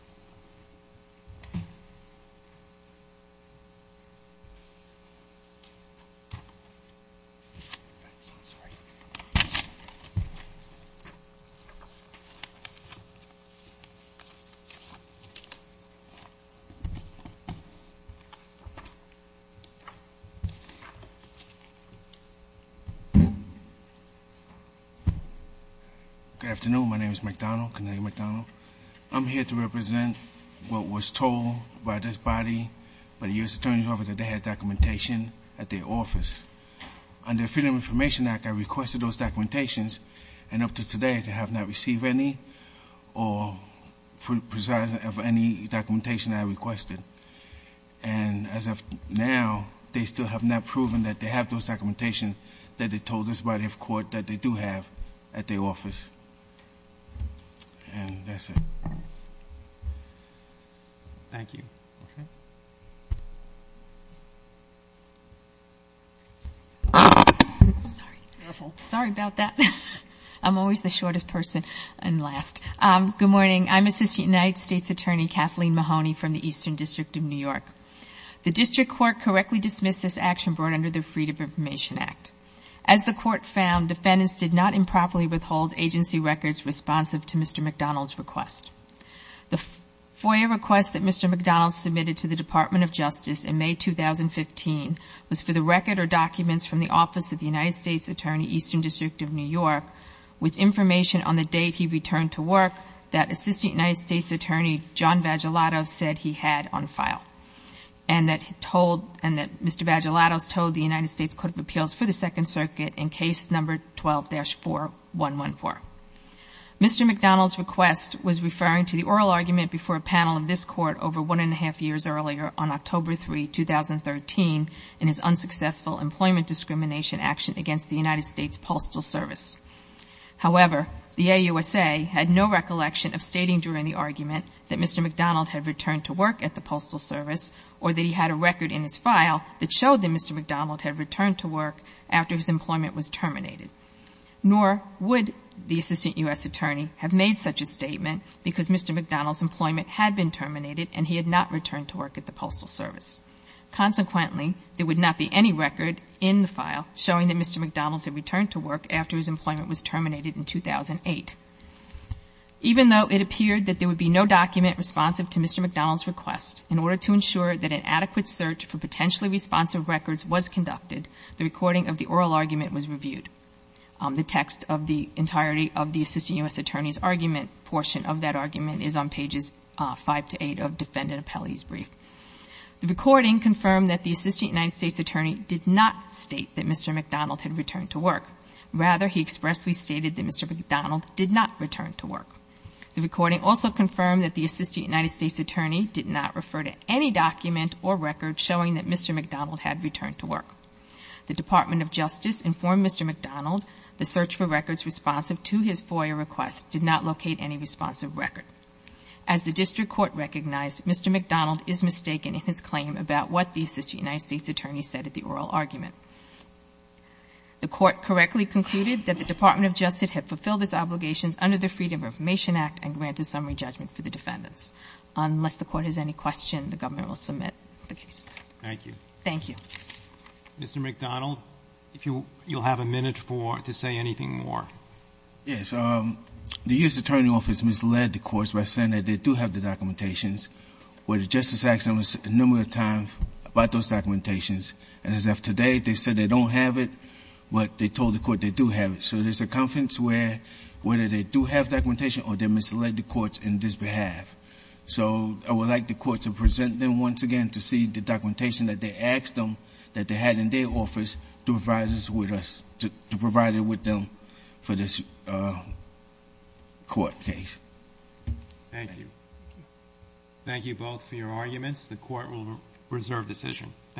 Last year, US Food and Drug Administration Good afternoon, my name is McDonald. I'm here to represent what was told by this body, by the US Attorney's Office, that they had documentation at their office. Under Freedom of Information Act, I requested those documentations, and up to today, they have not received any, or precise of any documentation I requested. And as of now, they still have not proven that they have those documentation that they told this body of court that they do have at their office. And that's it. Thank you. Sorry about that. I'm always the shortest person, and last. Good morning, I'm Assistant United States Attorney Kathleen Mahoney from the Eastern District of New York. The District Court correctly dismissed this action brought under the Freedom of Information Act. As the court found, defendants did not improperly withhold agency records responsive to Mr. McDonald's request. The FOIA request that Mr. McDonald submitted to the Department of Justice in May 2015 was for the record or documents from the office of the United States Attorney, Eastern District of New York, with information on the date he returned to work that Assistant United States Attorney John Vagelatos said he had on file. And that Mr. Vagelatos told the United States Court of Appeals for the Second Circuit in case number 12-4114. Mr. McDonald's request was referring to the oral argument before a panel of this court over one and a half years earlier, on October 3, 2013, in his unsuccessful employment discrimination action against the United States Postal Service. However, the AUSA had no recollection of stating during the argument that Mr. McDonald had returned to work at the Postal Service or that he had a record in his file that showed that Mr. McDonald had returned to work after his employment was terminated. Nor would the Assistant U.S. Attorney have made such a statement because Mr. McDonald's employment had been terminated and he had not returned to work at the Postal Service. Consequently, there would not be any record in the file showing that Mr. McDonald had returned to work after his employment was terminated in 2008. Even though it appeared that there would be no document responsive to Mr. McDonald's request, in order to ensure that an adequate search for potentially responsive records was conducted, the recording of the oral argument was reviewed. The text of the entirety of the Assistant U.S. Attorney's argument portion of that argument is on pages 5 to 8 of Defendant Appellee's Brief. The recording confirmed that the Assistant United States Attorney did not state that Mr. McDonald had returned to work. Rather, he expressed he stated that Mr. McDonald did not return to work. The recording also confirmed that the Assistant United States Attorney did not refer to any document or record showing that Mr. McDonald had returned to work. The Department of Justice informed Mr. McDonald the search for records responsive to his FOIA request did not locate any responsive record. As the District Court recognized, Mr. McDonald is mistaken in his claim about what the Assistant United States Attorney said at the oral argument. The Court correctly concluded that the Department of Justice had fulfilled its obligations under the Freedom of Information Act and granted summary judgment for the defendants. Unless the Court has any questions, the government will submit the case. Roberts. Thank you. McDonald. Thank you. Roberts. Mr. McDonald, if you'll have a minute for to say anything more. McDonald. Yes. The U.S. Attorney's Office misled the courts by saying that they do have the documentations, where the Justice asked them numerous times about those documentations. And as of today, they said they don't have it, but they told the Court they do have it. So there's a conference where, whether they do have documentation or they misled the courts in this behalf. So I would like the Court to present them once again to see the documentation that they asked them that they had in their office to provide us with us, to provide it with them for this Court case. Roberts. Thank you. Thank you both for your arguments. The Court will reserve decision.